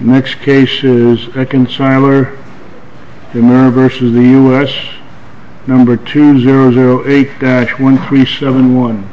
Next case is Ekinciler Demir v. United States, number 2008-1371. Ekinciler Demir v. United States, number 2008-1371.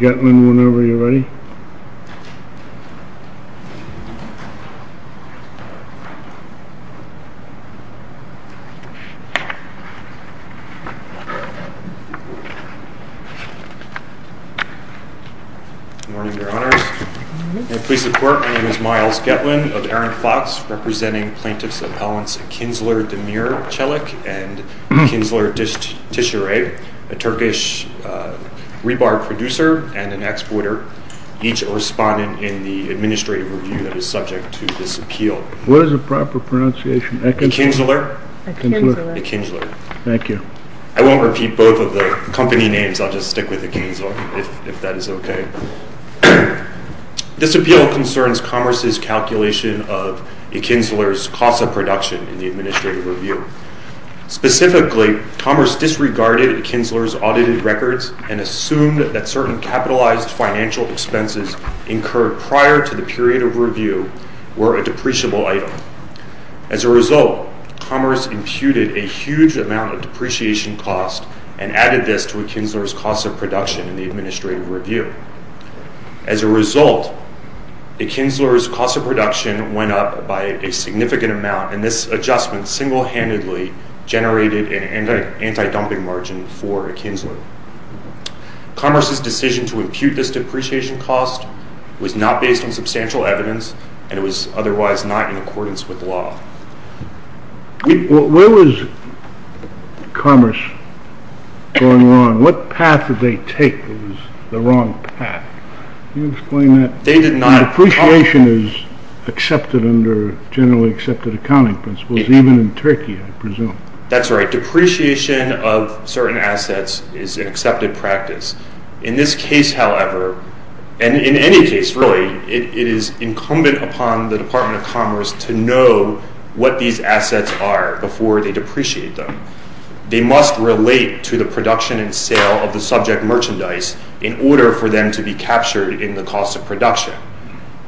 Good morning, Your Honors. May it please the Court, my name is Myles Getland of Aaron Fox, representing plaintiffs' appellants Ekinciler Demir Celik and Ekinciler Tishere, a Turkish rebar producer and an exporter, each a respondent in the administrative review that is subject to this appeal. What is the proper pronunciation? Ekinciler Ekinciler Ekinciler Thank you. I won't repeat both of the company names, I'll just stick with Ekinciler, if that is okay. This appeal concerns Commerce's calculation of Ekinciler's cost of production in the administrative review. Specifically, Commerce disregarded Ekinciler's audited records and assumed that certain capitalized financial expenses incurred prior to the period of review were a depreciable item. As a result, Commerce imputed a huge amount of depreciation cost and added this to Ekinciler's cost of production in the administrative review. As a result, Ekinciler's cost of production went up by a significant amount, and this adjustment single-handedly generated an anti-dumping margin for Ekinciler. Commerce's decision to impute this depreciation cost was not based on substantial evidence, and it was otherwise not in accordance with law. Where was Commerce going wrong? What path did they take that was the wrong path? Can you explain that? They did not... Depreciation is accepted under generally accepted accounting principles, even in Turkey, I presume. That's right. Depreciation of certain assets is an accepted practice. In this case, however, and in any case, really, it is incumbent upon the Department of Commerce to know what these assets are before they depreciate them. They must relate to the production and sale of the subject merchandise in order for them to be captured in the cost of production.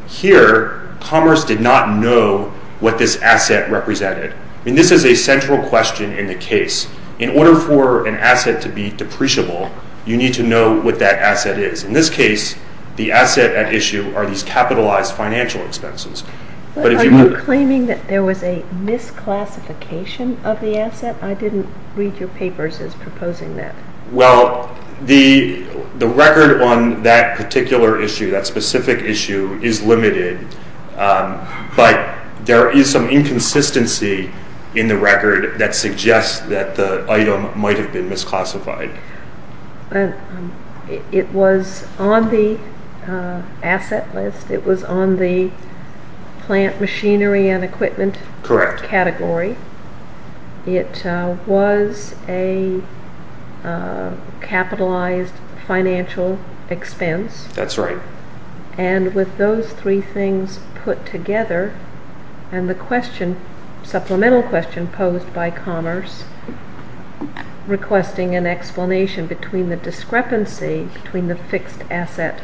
Here, Commerce did not know what this asset represented. This is a central question in the case. In order for an asset to be depreciable, you need to know what that asset is. In this case, the asset at issue are these capitalized financial expenses. Are you claiming that there was a misclassification of the asset? I didn't read your papers as proposing that. Well, the record on that particular issue, that specific issue, is limited. But there is some inconsistency in the record that suggests that the item might have been misclassified. It was on the asset list. It was on the plant machinery and equipment category. It was a capitalized financial expense. That's right. And with those three things put together and the question, supplemental question, posed by Commerce requesting an explanation between the discrepancy between the fixed asset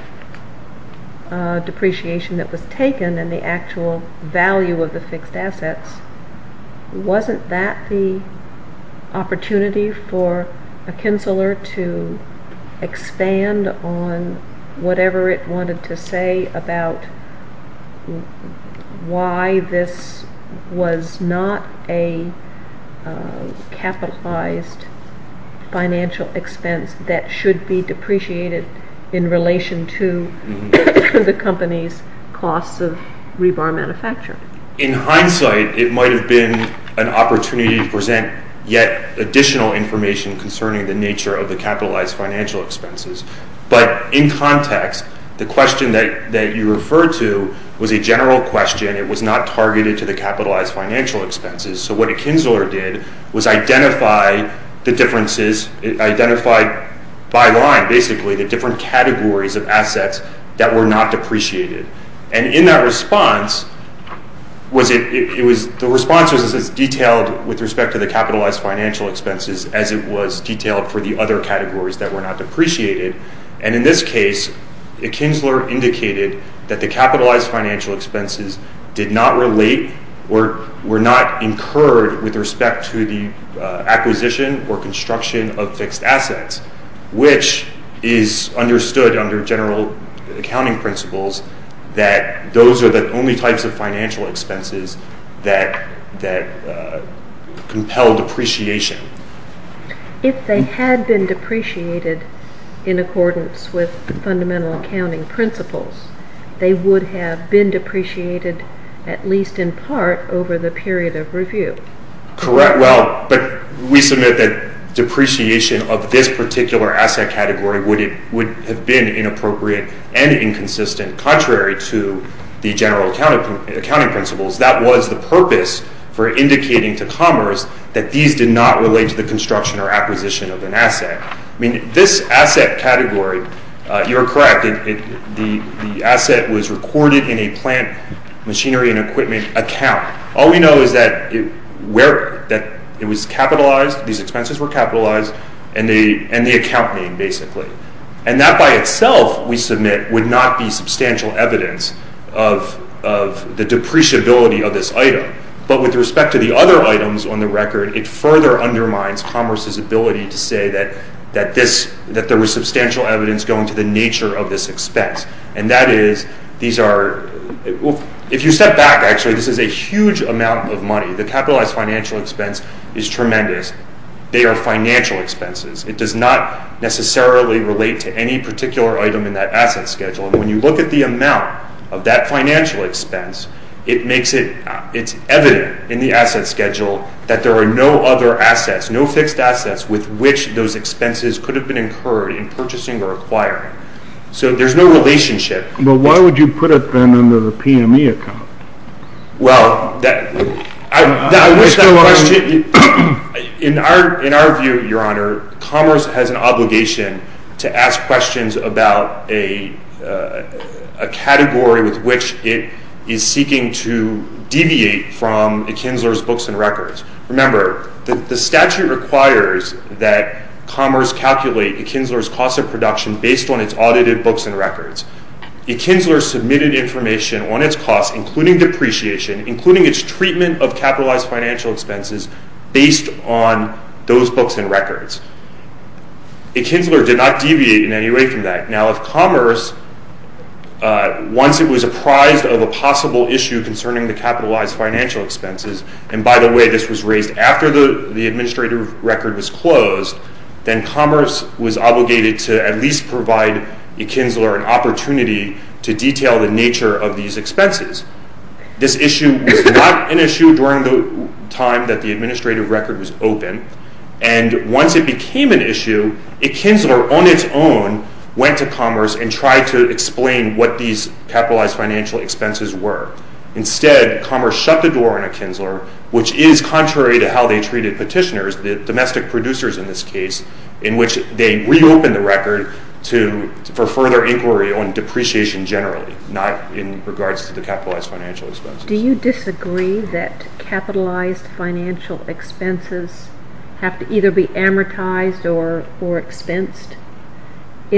depreciation that was taken and the actual value of the fixed assets, wasn't that the opportunity for McKinseller to expand on whatever it wanted to say about why this was not a capitalized financial expense that should be depreciated in relation to the company's cost of rebar manufacturing? In hindsight, it might have been an opportunity to present yet additional information concerning the nature of the capitalized financial expenses. But in context, the question that you referred to was a general question. It was not targeted to the capitalized financial expenses. So what McKinseller did was identify the differences, identified by line, basically, the different categories of assets that were not depreciated. And in that response, the response was as detailed with respect to the capitalized financial expenses as it was detailed for the other categories that were not depreciated. And in this case, McKinseller indicated that the capitalized financial expenses did not relate or were not incurred with respect to the acquisition or construction of fixed assets, which is understood under general accounting principles that those are the only types of financial expenses that compel depreciation. If they had been depreciated in accordance with fundamental accounting principles, they would have been depreciated at least in part over the period of review. Correct. Well, but we submit that depreciation of this particular asset category would have been inappropriate and inconsistent contrary to the general accounting principles. That was the purpose for indicating to Commerce that these did not relate to the construction or acquisition of an asset. I mean, this asset category, you're correct, the asset was recorded in a plant machinery and equipment account. All we know is that it was capitalized, these expenses were capitalized, and the account name, basically. And that by itself, we submit, would not be substantial evidence of the depreciability of this item. But with respect to the other items on the record, it further undermines Commerce's ability to say that there was substantial evidence going to the nature of this expense. And that is, these are, if you step back, actually, this is a huge amount of money. The capitalized financial expense is tremendous. They are financial expenses. It does not necessarily relate to any particular item in that asset schedule. And when you look at the amount of that financial expense, it makes it, it's evident in the asset schedule that there are no other assets, no fixed assets with which those expenses could have been incurred in purchasing or acquiring. So there's no relationship. But why would you put it then under the PME account? Well, I wish that question, in our view, Your Honor, Commerce has an obligation to ask questions about a category with which it is seeking to deviate from Akinzler's books and records. Remember, the statute requires that Commerce calculate Akinzler's cost of production based on its audited books and records. Akinzler submitted information on its cost, including depreciation, including its treatment of capitalized financial expenses, based on those books and records. Akinzler did not deviate in any way from that. Now, if Commerce, once it was apprised of a possible issue concerning the capitalized financial expenses, and by the way, this was raised after the administrative record was closed, then Commerce was obligated to at least provide Akinzler an opportunity to detail the nature of these expenses. This issue was not an issue during the time that the administrative record was open. And once it became an issue, Akinzler, on its own, went to Commerce and tried to explain what these capitalized financial expenses were. Instead, Commerce shut the door on Akinzler, which is contrary to how they treated petitioners, the domestic producers in this case, in which they reopened the record for further inquiry on depreciation generally, not in regards to the capitalized financial expenses. Do you disagree that capitalized financial expenses have to either be amortized or expensed? As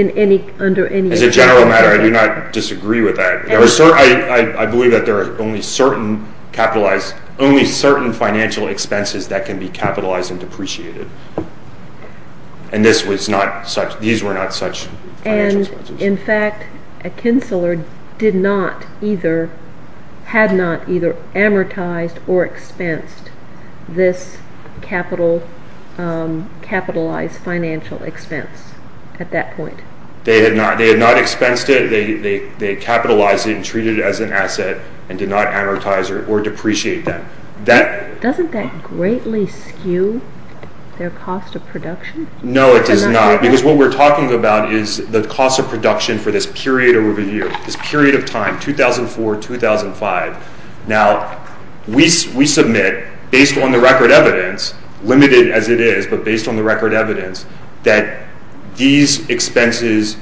a general matter, I do not disagree with that. I believe that there are only certain financial expenses that can be capitalized and depreciated. And these were not such financial expenses. And, in fact, Akinzler had not either amortized or expensed this capitalized financial expense at that point. They had not expensed it. They capitalized it and treated it as an asset and did not amortize or depreciate that. Doesn't that greatly skew their cost of production? No, it does not. Because what we're talking about is the cost of production for this period over the year, this period of time, 2004-2005. Now, we submit, based on the record evidence, limited as it is, but based on the record evidence, that these expenses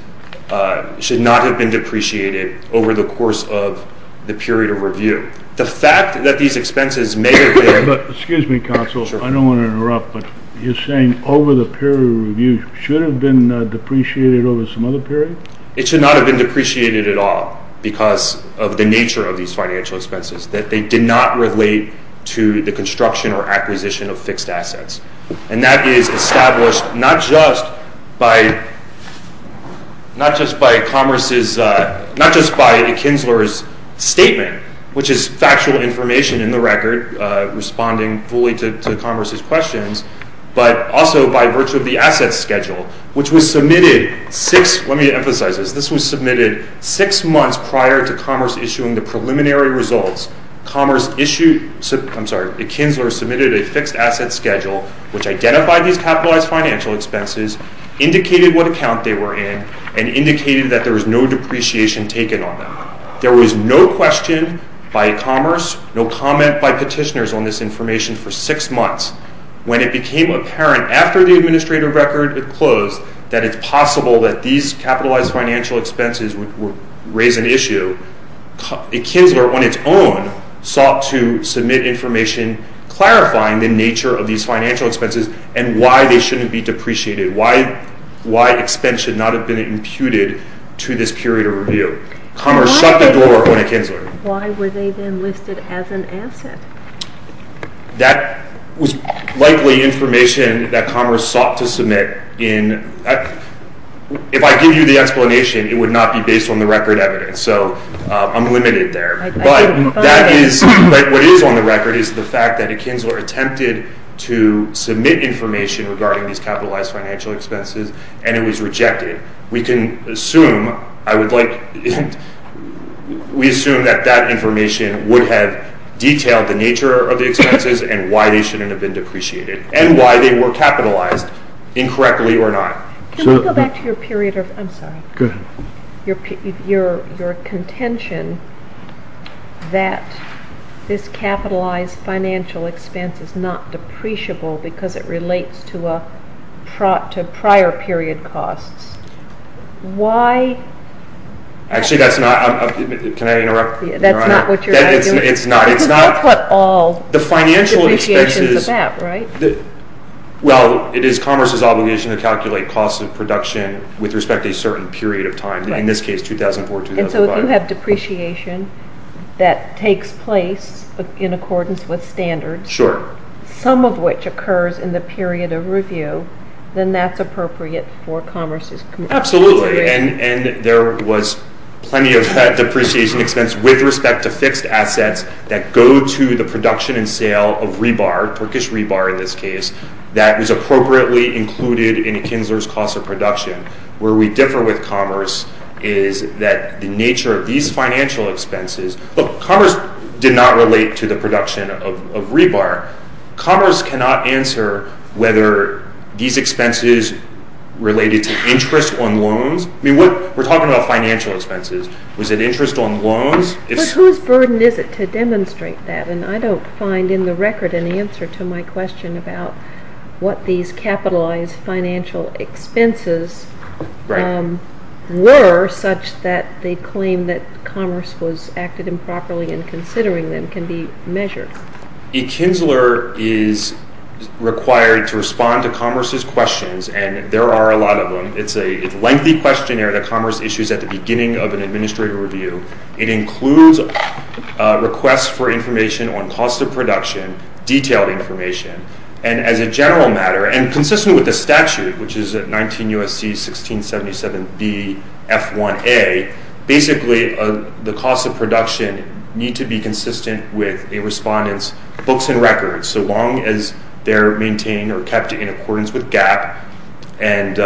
should not have been depreciated over the course of the period of review. The fact that these expenses may have been— Excuse me, counsel. I don't want to interrupt, but you're saying over the period of review should have been depreciated over some other period? It should not have been depreciated at all because of the nature of these financial expenses, that they did not relate to the construction or acquisition of fixed assets. And that is established not just by Akinzler's statement, which is factual information in the record responding fully to Congress's questions, but also by virtue of the assets schedule, which was submitted six—let me emphasize this. This was submitted six months prior to Commerce issuing the preliminary results. Commerce issued—I'm sorry, Akinzler submitted a fixed assets schedule, which identified these capitalized financial expenses, indicated what account they were in, and indicated that there was no depreciation taken on them. There was no question by Commerce, no comment by petitioners on this information for six months when it became apparent after the administrative record was closed that it's possible that these capitalized financial expenses would raise an issue. Akinzler on its own sought to submit information clarifying the nature of these financial expenses and why they shouldn't be depreciated, why expense should not have been imputed to this period of review. Commerce shut the door on Akinzler. Why were they then listed as an asset? That was likely information that Commerce sought to submit in— if I give you the explanation, it would not be based on the record evidence, so I'm limited there. But that is—what is on the record is the fact that Akinzler attempted to submit information regarding these capitalized financial expenses, and it was rejected. We can assume—I would like—we assume that that information would have detailed the nature of the expenses and why they shouldn't have been depreciated, and why they were capitalized, incorrectly or not. Can we go back to your period of—I'm sorry. Go ahead. Your contention that this capitalized financial expense is not depreciable because it relates to prior period costs. Why— Actually, that's not—can I interrupt? That's not what you're trying to do? It's not. Because you put all depreciations on that, right? Well, it is Commerce's obligation to calculate costs of production with respect to a certain period of time, in this case 2004, 2005. And so if you have depreciation that takes place in accordance with standards— Sure. —some of which occurs in the period of review, then that's appropriate for Commerce's— Absolutely. And there was plenty of that depreciation expense with respect to fixed assets that go to the production and sale of rebar, Turkish rebar in this case, that was appropriately included in Akinzler's cost of production. Where we differ with Commerce is that the nature of these financial expenses— Look, Commerce did not relate to the production of rebar. Commerce cannot answer whether these expenses related to interest on loans. I mean, we're talking about financial expenses. Was it interest on loans? But whose burden is it to demonstrate that? And I don't find in the record an answer to my question about what these capitalized financial expenses were such that they claim that Commerce acted improperly in considering them can be measured. Akinzler is required to respond to Commerce's questions, and there are a lot of them. It's a lengthy questionnaire that Commerce issues at the beginning of an administrative review. It includes requests for information on cost of production, detailed information, and as a general matter, and consistent with the statute, which is 19 U.S.C. 1677 B.F.1a, basically the cost of production need to be consistent with a respondent's books and records so long as they're maintained or kept in accordance with GAAP. And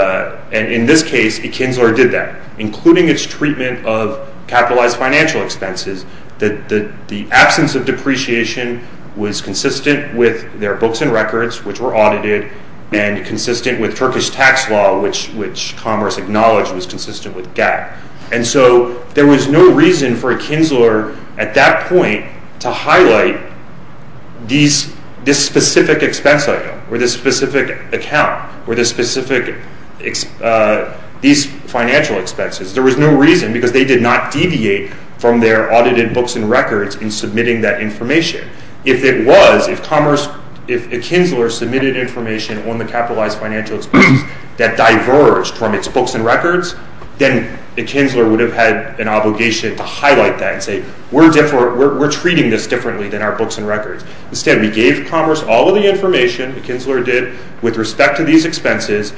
in this case, Akinzler did that, including its treatment of capitalized financial expenses. The absence of depreciation was consistent with their books and records, which were audited, and consistent with Turkish tax law, which Commerce acknowledged was consistent with GAAP. And so there was no reason for Akinzler at that point to highlight this specific expense item or this specific account or these financial expenses. There was no reason because they did not deviate from their audited books and records in submitting that information. If it was, if Commerce, if Akinzler submitted information on the capitalized financial expenses that diverged from its books and records, then Akinzler would have had an obligation to highlight that and say, we're treating this differently than our books and records. Instead, we gave Commerce all of the information Akinzler did with respect to these expenses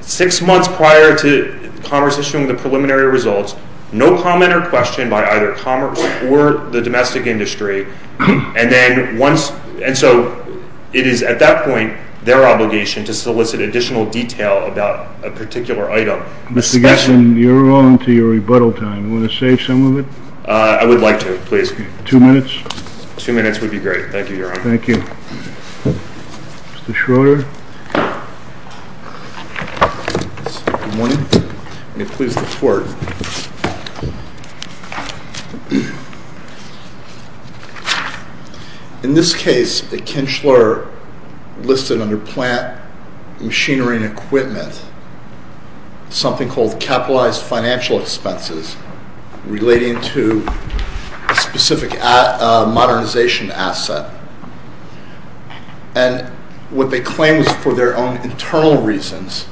six months prior to Commerce issuing the preliminary results. No comment or question by either Commerce or the domestic industry. And then once, and so it is at that point their obligation to solicit additional detail about a particular item. Mr. Gesson, you're on to your rebuttal time. You want to save some of it? I would like to, please. Two minutes? Two minutes would be great. Thank you, Your Honor. Thank you. Mr. Schroeder? Good morning. May it please the Court. In this case, Akinzler listed under plant machinery and equipment something called capitalized financial expenses relating to a specific modernization asset. And what they claimed was for their own internal reasons,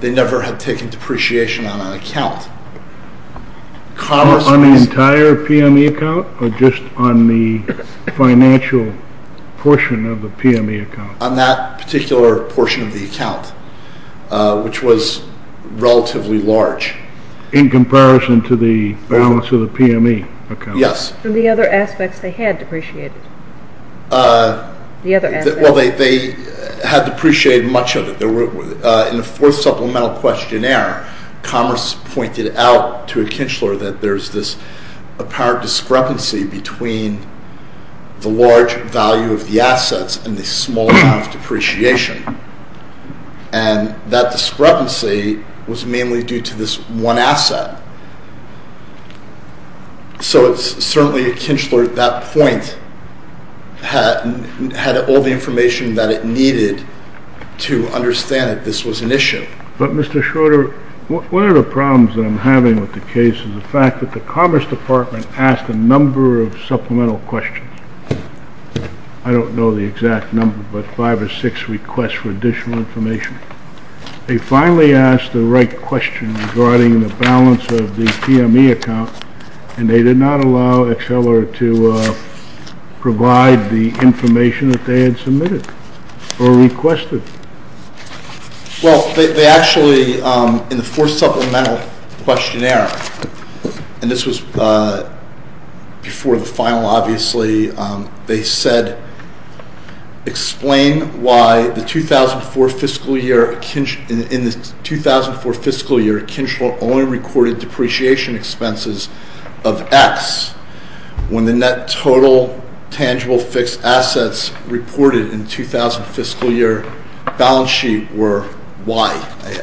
they never had taken depreciation on an account. On the entire PME account or just on the financial portion of the PME account? On that particular portion of the account, which was relatively large. In comparison to the balance of the PME account? Yes. And the other aspects they had depreciated? Well, they had depreciated much of it. In the fourth supplemental questionnaire, Commerce pointed out to Akinzler that there's this apparent discrepancy between the large value of the assets and the small amount of depreciation. And that discrepancy was mainly due to this one asset. So it's certainly Akinzler at that point had all the information that it needed to understand that this was an issue. But, Mr. Schroeder, one of the problems that I'm having with the case is the fact that the Commerce Department asked a number of supplemental questions. I don't know the exact number, but five or six requests for additional information. They finally asked the right question regarding the balance of the PME account, and they did not allow Akinzler to provide the information that they had submitted or requested. Well, they actually, in the fourth supplemental questionnaire, and this was before the final, obviously, they said, explain why in the 2004 fiscal year Akinzler only recorded depreciation expenses of X when the net total tangible fixed assets reported in the 2000 fiscal year balance sheet were Y.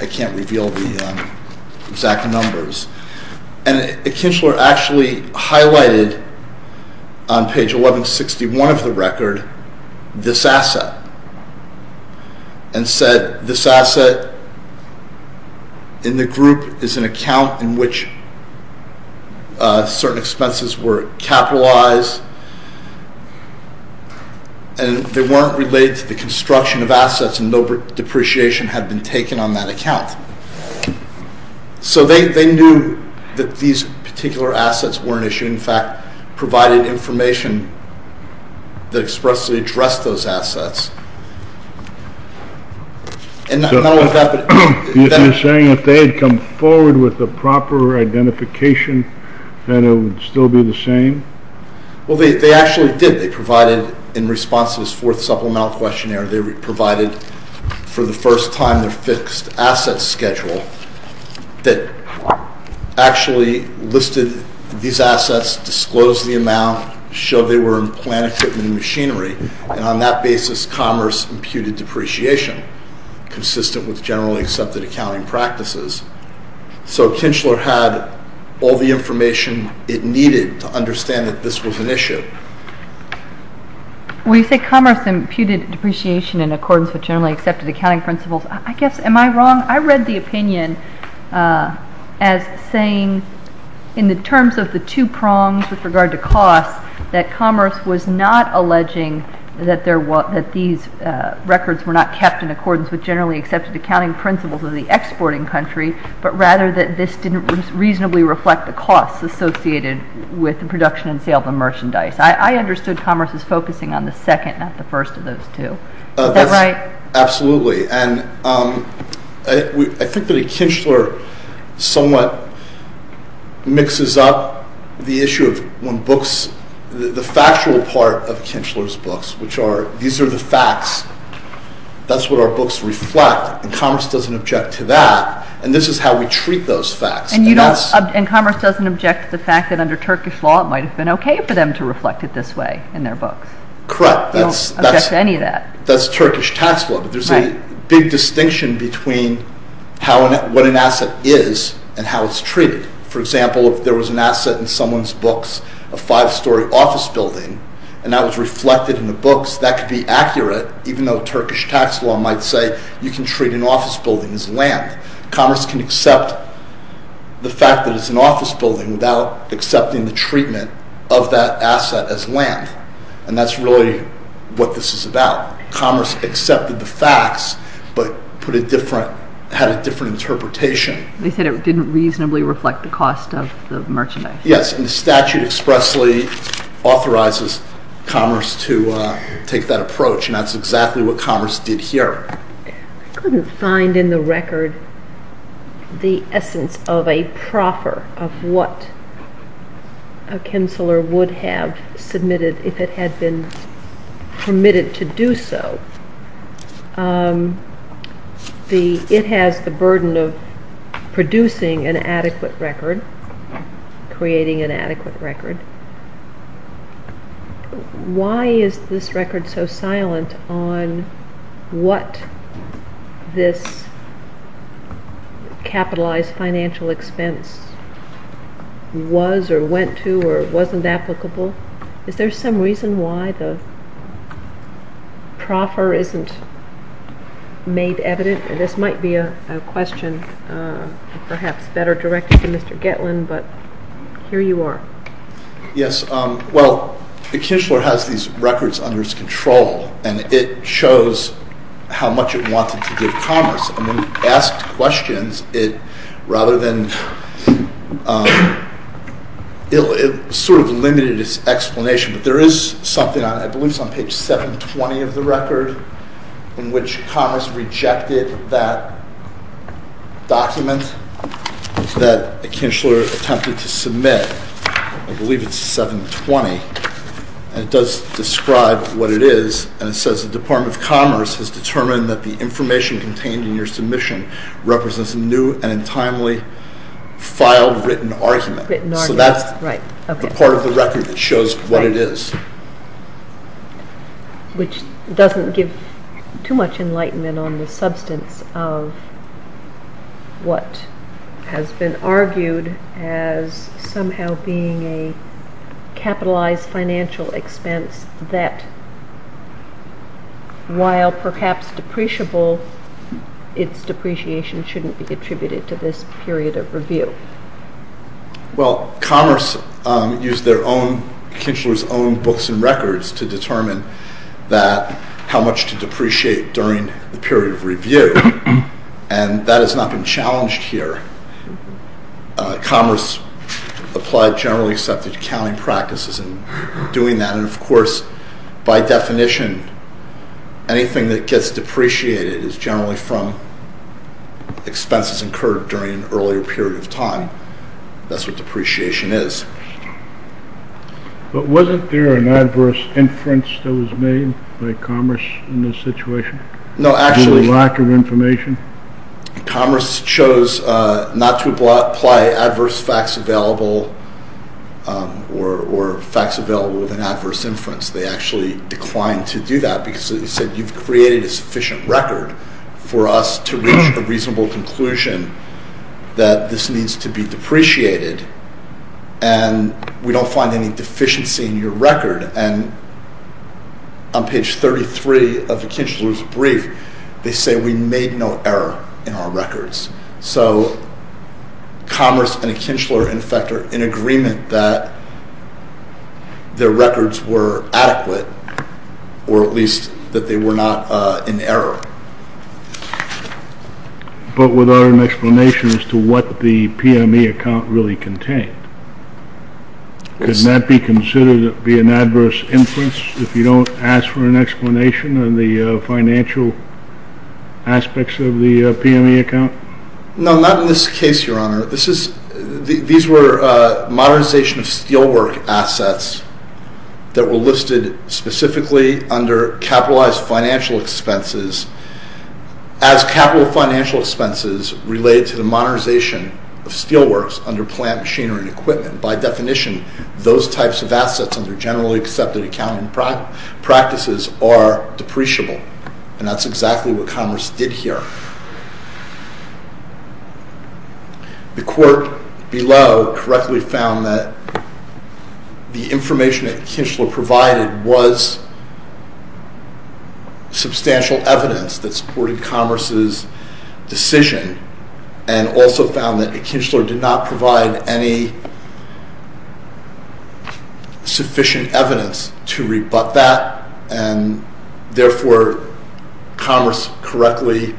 I can't reveal the exact numbers. And Akinzler actually highlighted on page 1161 of the record this asset and said, this asset in the group is an account in which certain expenses were capitalized, and they weren't related to the construction of assets and no depreciation had been taken on that account. So they knew that these particular assets weren't issued. In fact, provided information that expressly addressed those assets. And not only that, but... You're saying if they had come forward with the proper identification, then it would still be the same? Well, they actually did. They provided, in response to this fourth supplemental questionnaire, they provided for the first time their fixed assets schedule that actually listed these assets, disclosed the amount, showed they were in plant equipment and machinery, and on that basis commerce imputed depreciation consistent with generally accepted accounting practices. So Akinzler had all the information it needed to understand that this was an issue. When you say commerce imputed depreciation in accordance with generally accepted accounting principles, I guess, am I wrong? I read the opinion as saying in the terms of the two prongs with regard to costs that commerce was not alleging that these records were not kept in accordance with generally accepted accounting principles of the exporting country, but rather that this didn't reasonably reflect the costs associated with the production and sale of the merchandise. I understood commerce as focusing on the second, not the first of those two. Is that right? Absolutely. And I think that Akinzler somewhat mixes up the issue of when books, the factual part of Akinzler's books, which are these are the facts, that's what our books reflect, and commerce doesn't object to that, and this is how we treat those facts. And commerce doesn't object to the fact that under Turkish law it might have been okay for them to reflect it this way in their books. Correct. They don't object to any of that. That's Turkish tax law, but there's a big distinction between what an asset is and how it's treated. For example, if there was an asset in someone's books, a five-story office building, and that was reflected in the books, that could be accurate, even though Turkish tax law might say you can treat an office building as land. Commerce can accept the fact that it's an office building without accepting the treatment of that asset as land, and that's really what this is about. Commerce accepted the facts but had a different interpretation. They said it didn't reasonably reflect the cost of the merchandise. Yes, and the statute expressly authorizes commerce to take that approach, and that's exactly what commerce did here. I couldn't find in the record the essence of a proffer, of what a counselor would have submitted if it had been permitted to do so. It has the burden of producing an adequate record, creating an adequate record. Why is this record so silent on what this capitalized financial expense was or went to or wasn't applicable? Is there some reason why the proffer isn't made evident? This might be a question perhaps better directed to Mr. Gitlin, but here you are. Yes, well, the consular has these records under its control, and it shows how much it wanted to give commerce, and when it asked questions, it sort of limited its explanation, but there is something, I believe it's on page 720 of the record, in which commerce rejected that document that the consular attempted to submit. I believe it's 720, and it does describe what it is, and it says the Department of Commerce has determined that the information contained in your submission represents a new and untimely filed written argument. So that's the part of the record that shows what it is. Which doesn't give too much enlightenment on the substance of what has been argued as somehow being a capitalized financial expense that, while perhaps depreciable, its depreciation shouldn't be attributed to this period of review. Well, commerce used their own consular's own books and records to determine how much to depreciate during the period of review, and that has not been challenged here. Commerce applied generally accepted accounting practices in doing that, and of course, by definition, anything that gets depreciated is generally from expenses incurred during an earlier period of time. That's what depreciation is. But wasn't there an adverse inference that was made by commerce in this situation? No, actually... The lack of information? Commerce chose not to apply adverse facts available or facts available with an adverse inference. They actually declined to do that because they said you've created a sufficient record for us to reach a reasonable conclusion that this needs to be depreciated and we don't find any deficiency in your record. And on page 33 of the Kinchler's brief, they say we made no error in our records. So commerce and Kinchler, in fact, are in agreement that their records were adequate, or at least that they were not in error. But without an explanation as to what the PME account really contained. Could that be considered to be an adverse inference if you don't ask for an explanation on the financial aspects of the PME account? No, not in this case, Your Honor. These were modernization of steelwork assets that were listed specifically under capitalized financial expenses as capital financial expenses related to the modernization of steelworks under plant machinery and equipment. By definition, those types of assets under generally accepted accounting practices are depreciable. And that's exactly what Commerce did here. The court below correctly found that the information that Kinchler provided was substantial evidence that supported Commerce's decision and also found that Kinchler did not provide any sufficient evidence to rebut that and therefore Commerce correctly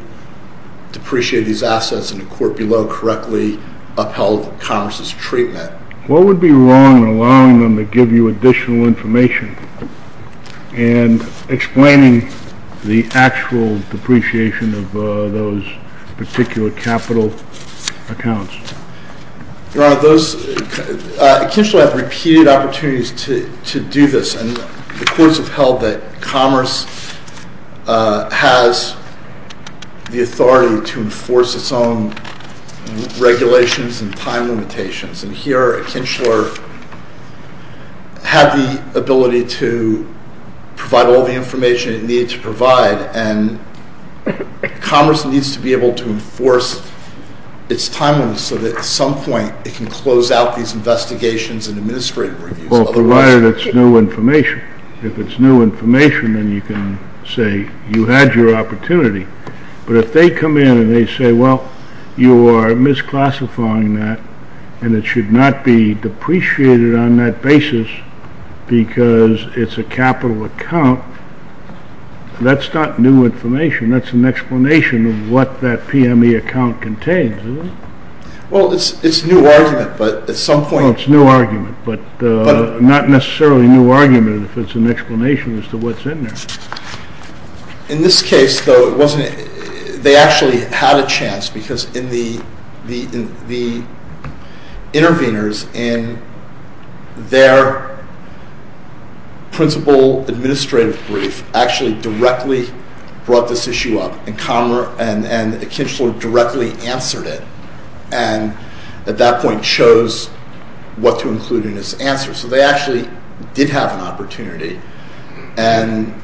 depreciated these assets and the court below correctly upheld Commerce's treatment. What would be wrong in allowing them to give you additional information and explaining the actual depreciation of those particular capital accounts? Your Honor, Kinchler had repeated opportunities to do this and the courts upheld that Commerce has the authority to enforce its own regulations and time limitations and here Kinchler had the ability to provide all the information it needed to provide and Commerce needs to be able to enforce its timelines so that at some point it can close out these investigations and administrative reviews. Well, provided it's new information. If it's new information, then you can say you had your opportunity. But if they come in and they say, well, you are misclassifying that and it should not be depreciated on that basis because it's a capital account, that's not new information. That's an explanation of what that PME account contains, isn't it? Well, it's a new argument, but at some point... It's a new argument, but not necessarily a new argument if it's an explanation as to what's in there. In this case, though, it wasn't... They actually had a chance because the interveners in their principal administrative brief actually directly brought this issue up and Kinchler directly answered it and at that point chose what to include in his answer. So they actually did have an opportunity and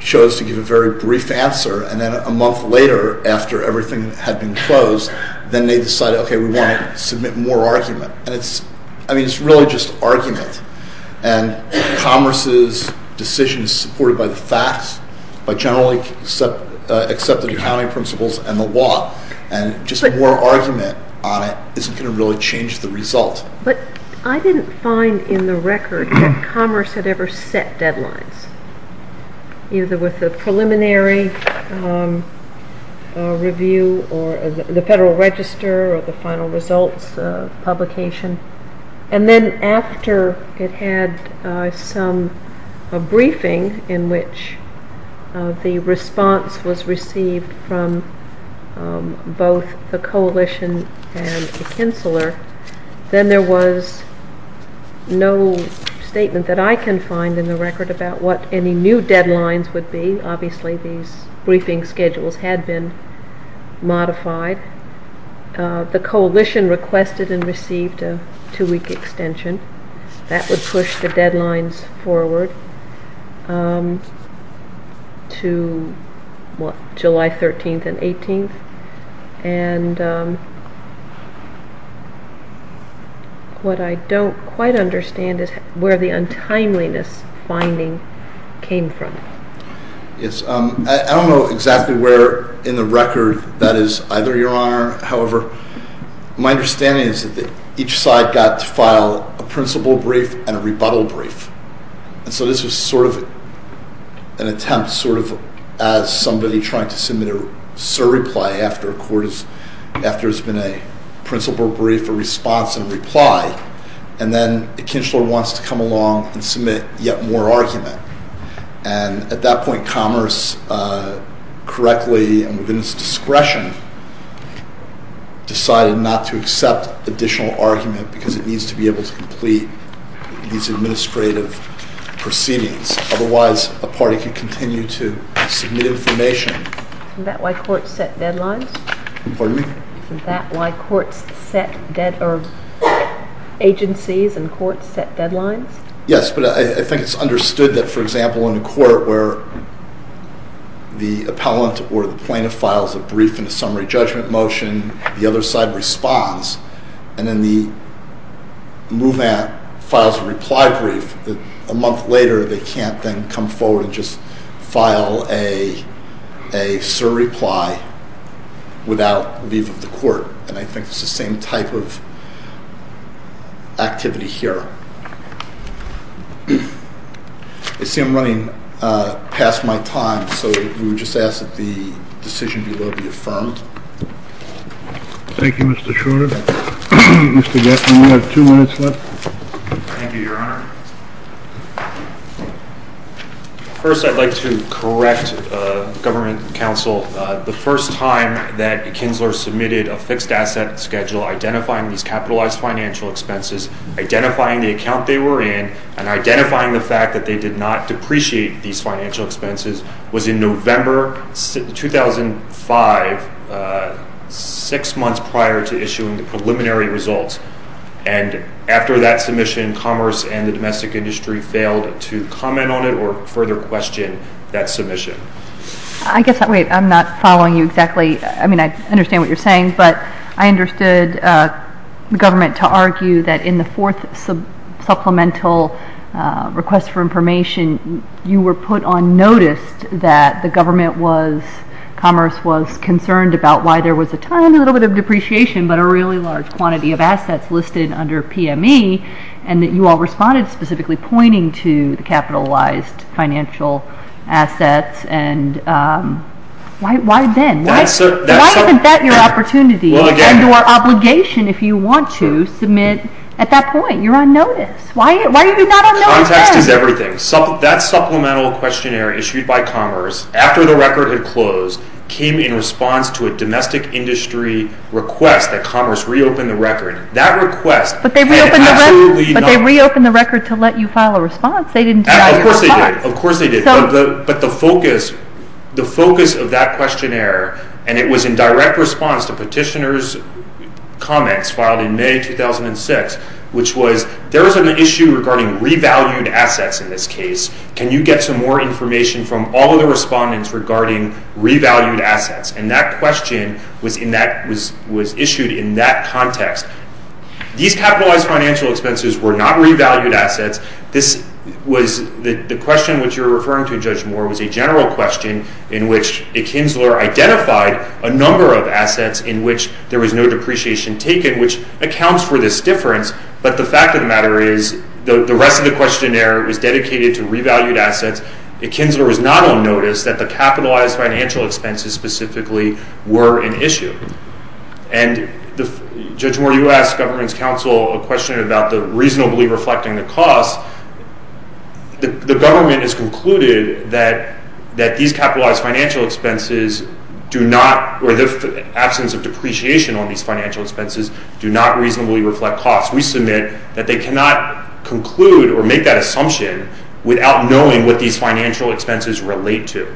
chose to give a very brief answer and then a month later, after everything had been closed, then they decided, okay, we want to submit more argument. And it's really just argument. And Commerce's decision is supported by the facts, by generally accepted accounting principles and the law, and just more argument on it isn't going to really change the result. But I didn't find in the record that Commerce had ever set deadlines, either with the preliminary review or the Federal Register or the final results publication. And then after it had some briefing in which the response was received from both the coalition and Kinchler, then there was no statement that I can find in the record about what any new deadlines would be. Obviously, these briefing schedules had been modified. The coalition requested and received a two-week extension. That would push the deadlines forward to July 13th and 18th. And what I don't quite understand is where the untimeliness finding came from. Yes. I don't know exactly where in the record that is either, Your Honor. However, my understanding is that each side got to file a principle brief and a rebuttal brief. And so this was sort of an attempt sort of as somebody trying to submit a surreply after there's been a principle brief, a response, and a reply. And then Kinchler wants to come along and submit yet more argument. And at that point Commerce, correctly and within its discretion, decided not to accept additional argument because it needs to be able to complete these administrative proceedings. Otherwise, a party could continue to submit information. Isn't that why courts set deadlines? Pardon me? Isn't that why agencies and courts set deadlines? Yes, but I think it's understood that, for example, in a court where the appellant or the plaintiff files a brief and a summary judgment motion, the other side responds, and then the movement files a reply brief, a month later they can't then come forward and just file a surreply without leave of the court. And I think it's the same type of activity here. I see I'm running past my time, so we would just ask that the decision be lawfully affirmed. Thank you, Mr. Schroeder. Mr. Gaffney, we have two minutes left. Thank you, Your Honor. First, I'd like to correct Government Counsel. The first time that Kinchler submitted a fixed asset schedule identifying these capitalized financial expenses, identifying the account they were in, and identifying the fact that they did not depreciate these financial expenses was in November 2005, six months prior to issuing the preliminary results. And after that submission, Commerce and the domestic industry failed to comment on it or further question that submission. I guess I'm not following you exactly. I mean, I understand what you're saying, but I understood the government to argue that in the fourth supplemental request for information, you were put on notice that the government was, Commerce was, concerned about why there was a tiny little bit of depreciation but a really large quantity of assets listed under PME, and that you all responded specifically pointing to the capitalized financial assets. Why then? Why isn't that your opportunity and your obligation if you want to submit at that point? You're on notice. Why are you not on notice then? Context is everything. That supplemental questionnaire issued by Commerce, after the record had closed, came in response to a domestic industry request that Commerce reopened the record. That request had absolutely nothing. But they reopened the record to let you file a response. Of course they did. Of course they did. But the focus of that questionnaire, and it was in direct response to petitioner's comments filed in May 2006, which was there was an issue regarding revalued assets in this case. Can you get some more information from all of the respondents regarding revalued assets? And that question was issued in that context. These capitalized financial expenses were not revalued assets. The question which you're referring to, Judge Moore, was a general question in which Akinzler identified a number of assets in which there was no depreciation taken, which accounts for this difference. But the fact of the matter is the rest of the questionnaire was dedicated to revalued assets. Akinzler was not on notice that the capitalized financial expenses specifically were an issue. And, Judge Moore, you asked government's counsel a question about the reasonably reflecting the cost. The government has concluded that these capitalized financial expenses do not, or the absence of depreciation on these financial expenses, do not reasonably reflect cost. We submit that they cannot conclude or make that assumption without knowing what these financial expenses relate to.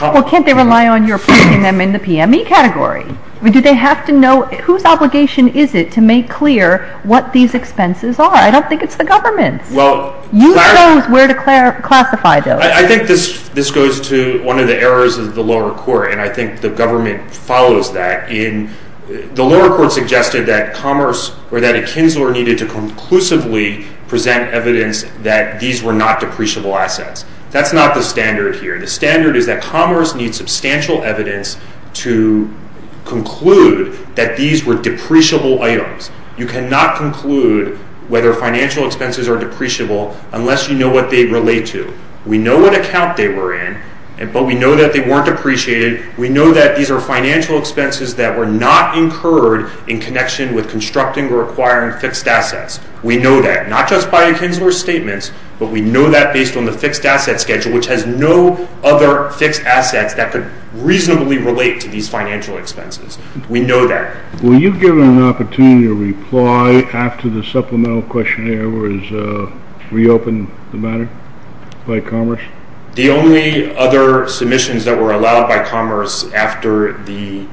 Well, can't they rely on your putting them in the PME category? Do they have to know, whose obligation is it to make clear what these expenses are? I don't think it's the government's. You chose where to classify those. I think this goes to one of the errors of the lower court, and I think the government follows that. The lower court suggested that Akinzler needed to conclusively present evidence that these were not depreciable assets. That's not the standard here. The standard is that commerce needs substantial evidence to conclude that these were depreciable items. You cannot conclude whether financial expenses are depreciable unless you know what they relate to. We know what account they were in, but we know that they weren't depreciated. We know that these are financial expenses that were not incurred in connection with constructing or acquiring fixed assets. We know that, not just by Akinzler's statements, but we know that based on the fixed asset schedule, which has no other fixed assets that could reasonably relate to these financial expenses. We know that. Were you given an opportunity to reply after the supplemental questionnaire was reopened by commerce? The only other submissions that were allowed by commerce after the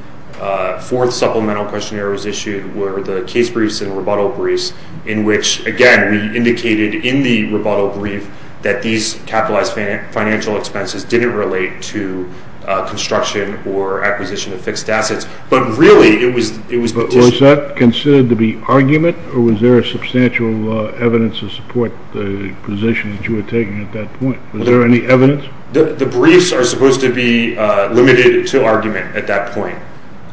fourth supplemental questionnaire was issued were the case briefs and rebuttal briefs in which, again, we indicated in the rebuttal brief that these capitalized financial expenses didn't relate to construction or acquisition of fixed assets. But really, it was petitioned. Was that considered to be argument, or was there substantial evidence to support the position that you were taking at that point? Was there any evidence? The briefs are supposed to be limited to argument at that point.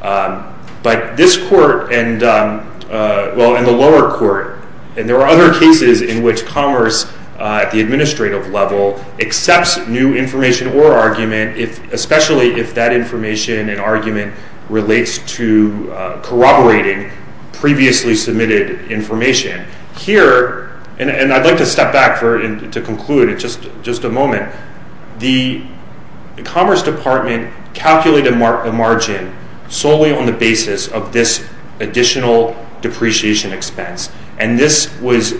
But this court and the lower court, and there are other cases in which commerce at the administrative level accepts new information or argument, especially if that information and argument relates to corroborating previously submitted information. Here, and I'd like to step back to conclude in just a moment, the Commerce Department calculated a margin solely on the basis of this additional depreciation expense. And this was,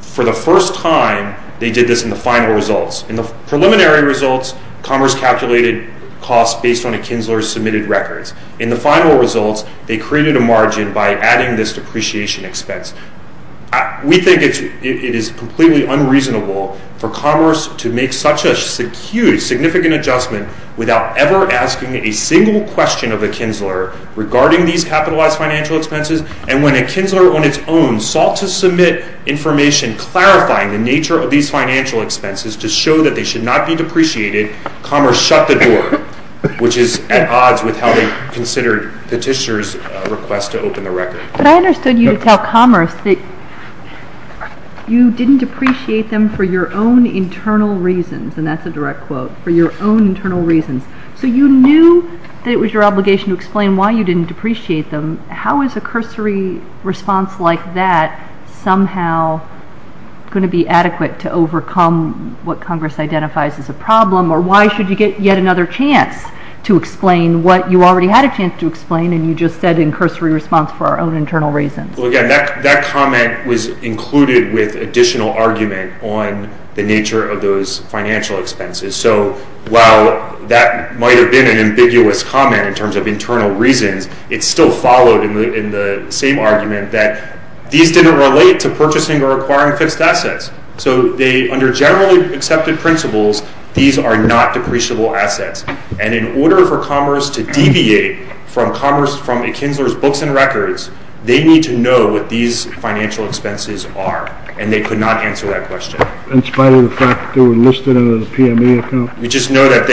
for the first time, they did this in the final results. In the preliminary results, commerce calculated costs based on a Kinsler's submitted records. In the final results, they created a margin by adding this depreciation expense. We think it is completely unreasonable for commerce to make such a huge, significant adjustment without ever asking a single question of a Kinsler regarding these capitalized financial expenses. And when a Kinsler on its own sought to submit information clarifying the nature of these financial expenses to show that they should not be depreciated, commerce shut the door, which is at odds with how they considered Petitioner's request to open the record. But I understood you to tell commerce that you didn't depreciate them for your own internal reasons, and that's a direct quote, for your own internal reasons. So you knew that it was your obligation to explain why you didn't depreciate them. How is a cursory response like that somehow going to be adequate to overcome what Congress identifies as a problem, or why should you get yet another chance to explain what you already had a chance to explain and you just said in cursory response for our own internal reasons? Well, again, that comment was included with additional argument on the nature of those financial expenses. So while that might have been an ambiguous comment in terms of internal reasons, it still followed in the same argument that these didn't relate to purchasing or acquiring fixed assets. So under generally accepted principles, these are not depreciable assets. And in order for commerce to deviate from a Kinsler's books and records, they need to know what these financial expenses are. And they could not answer that question. In spite of the fact that they were listed under the PMA account? We just know that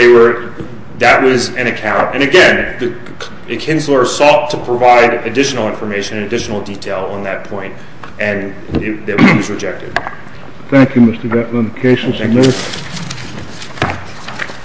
that was an account. And again, the Kinslers sought to provide additional information, additional detail on that point, and it was rejected. Thank you, Mr. Gatlin. The case is admitted. Thank you.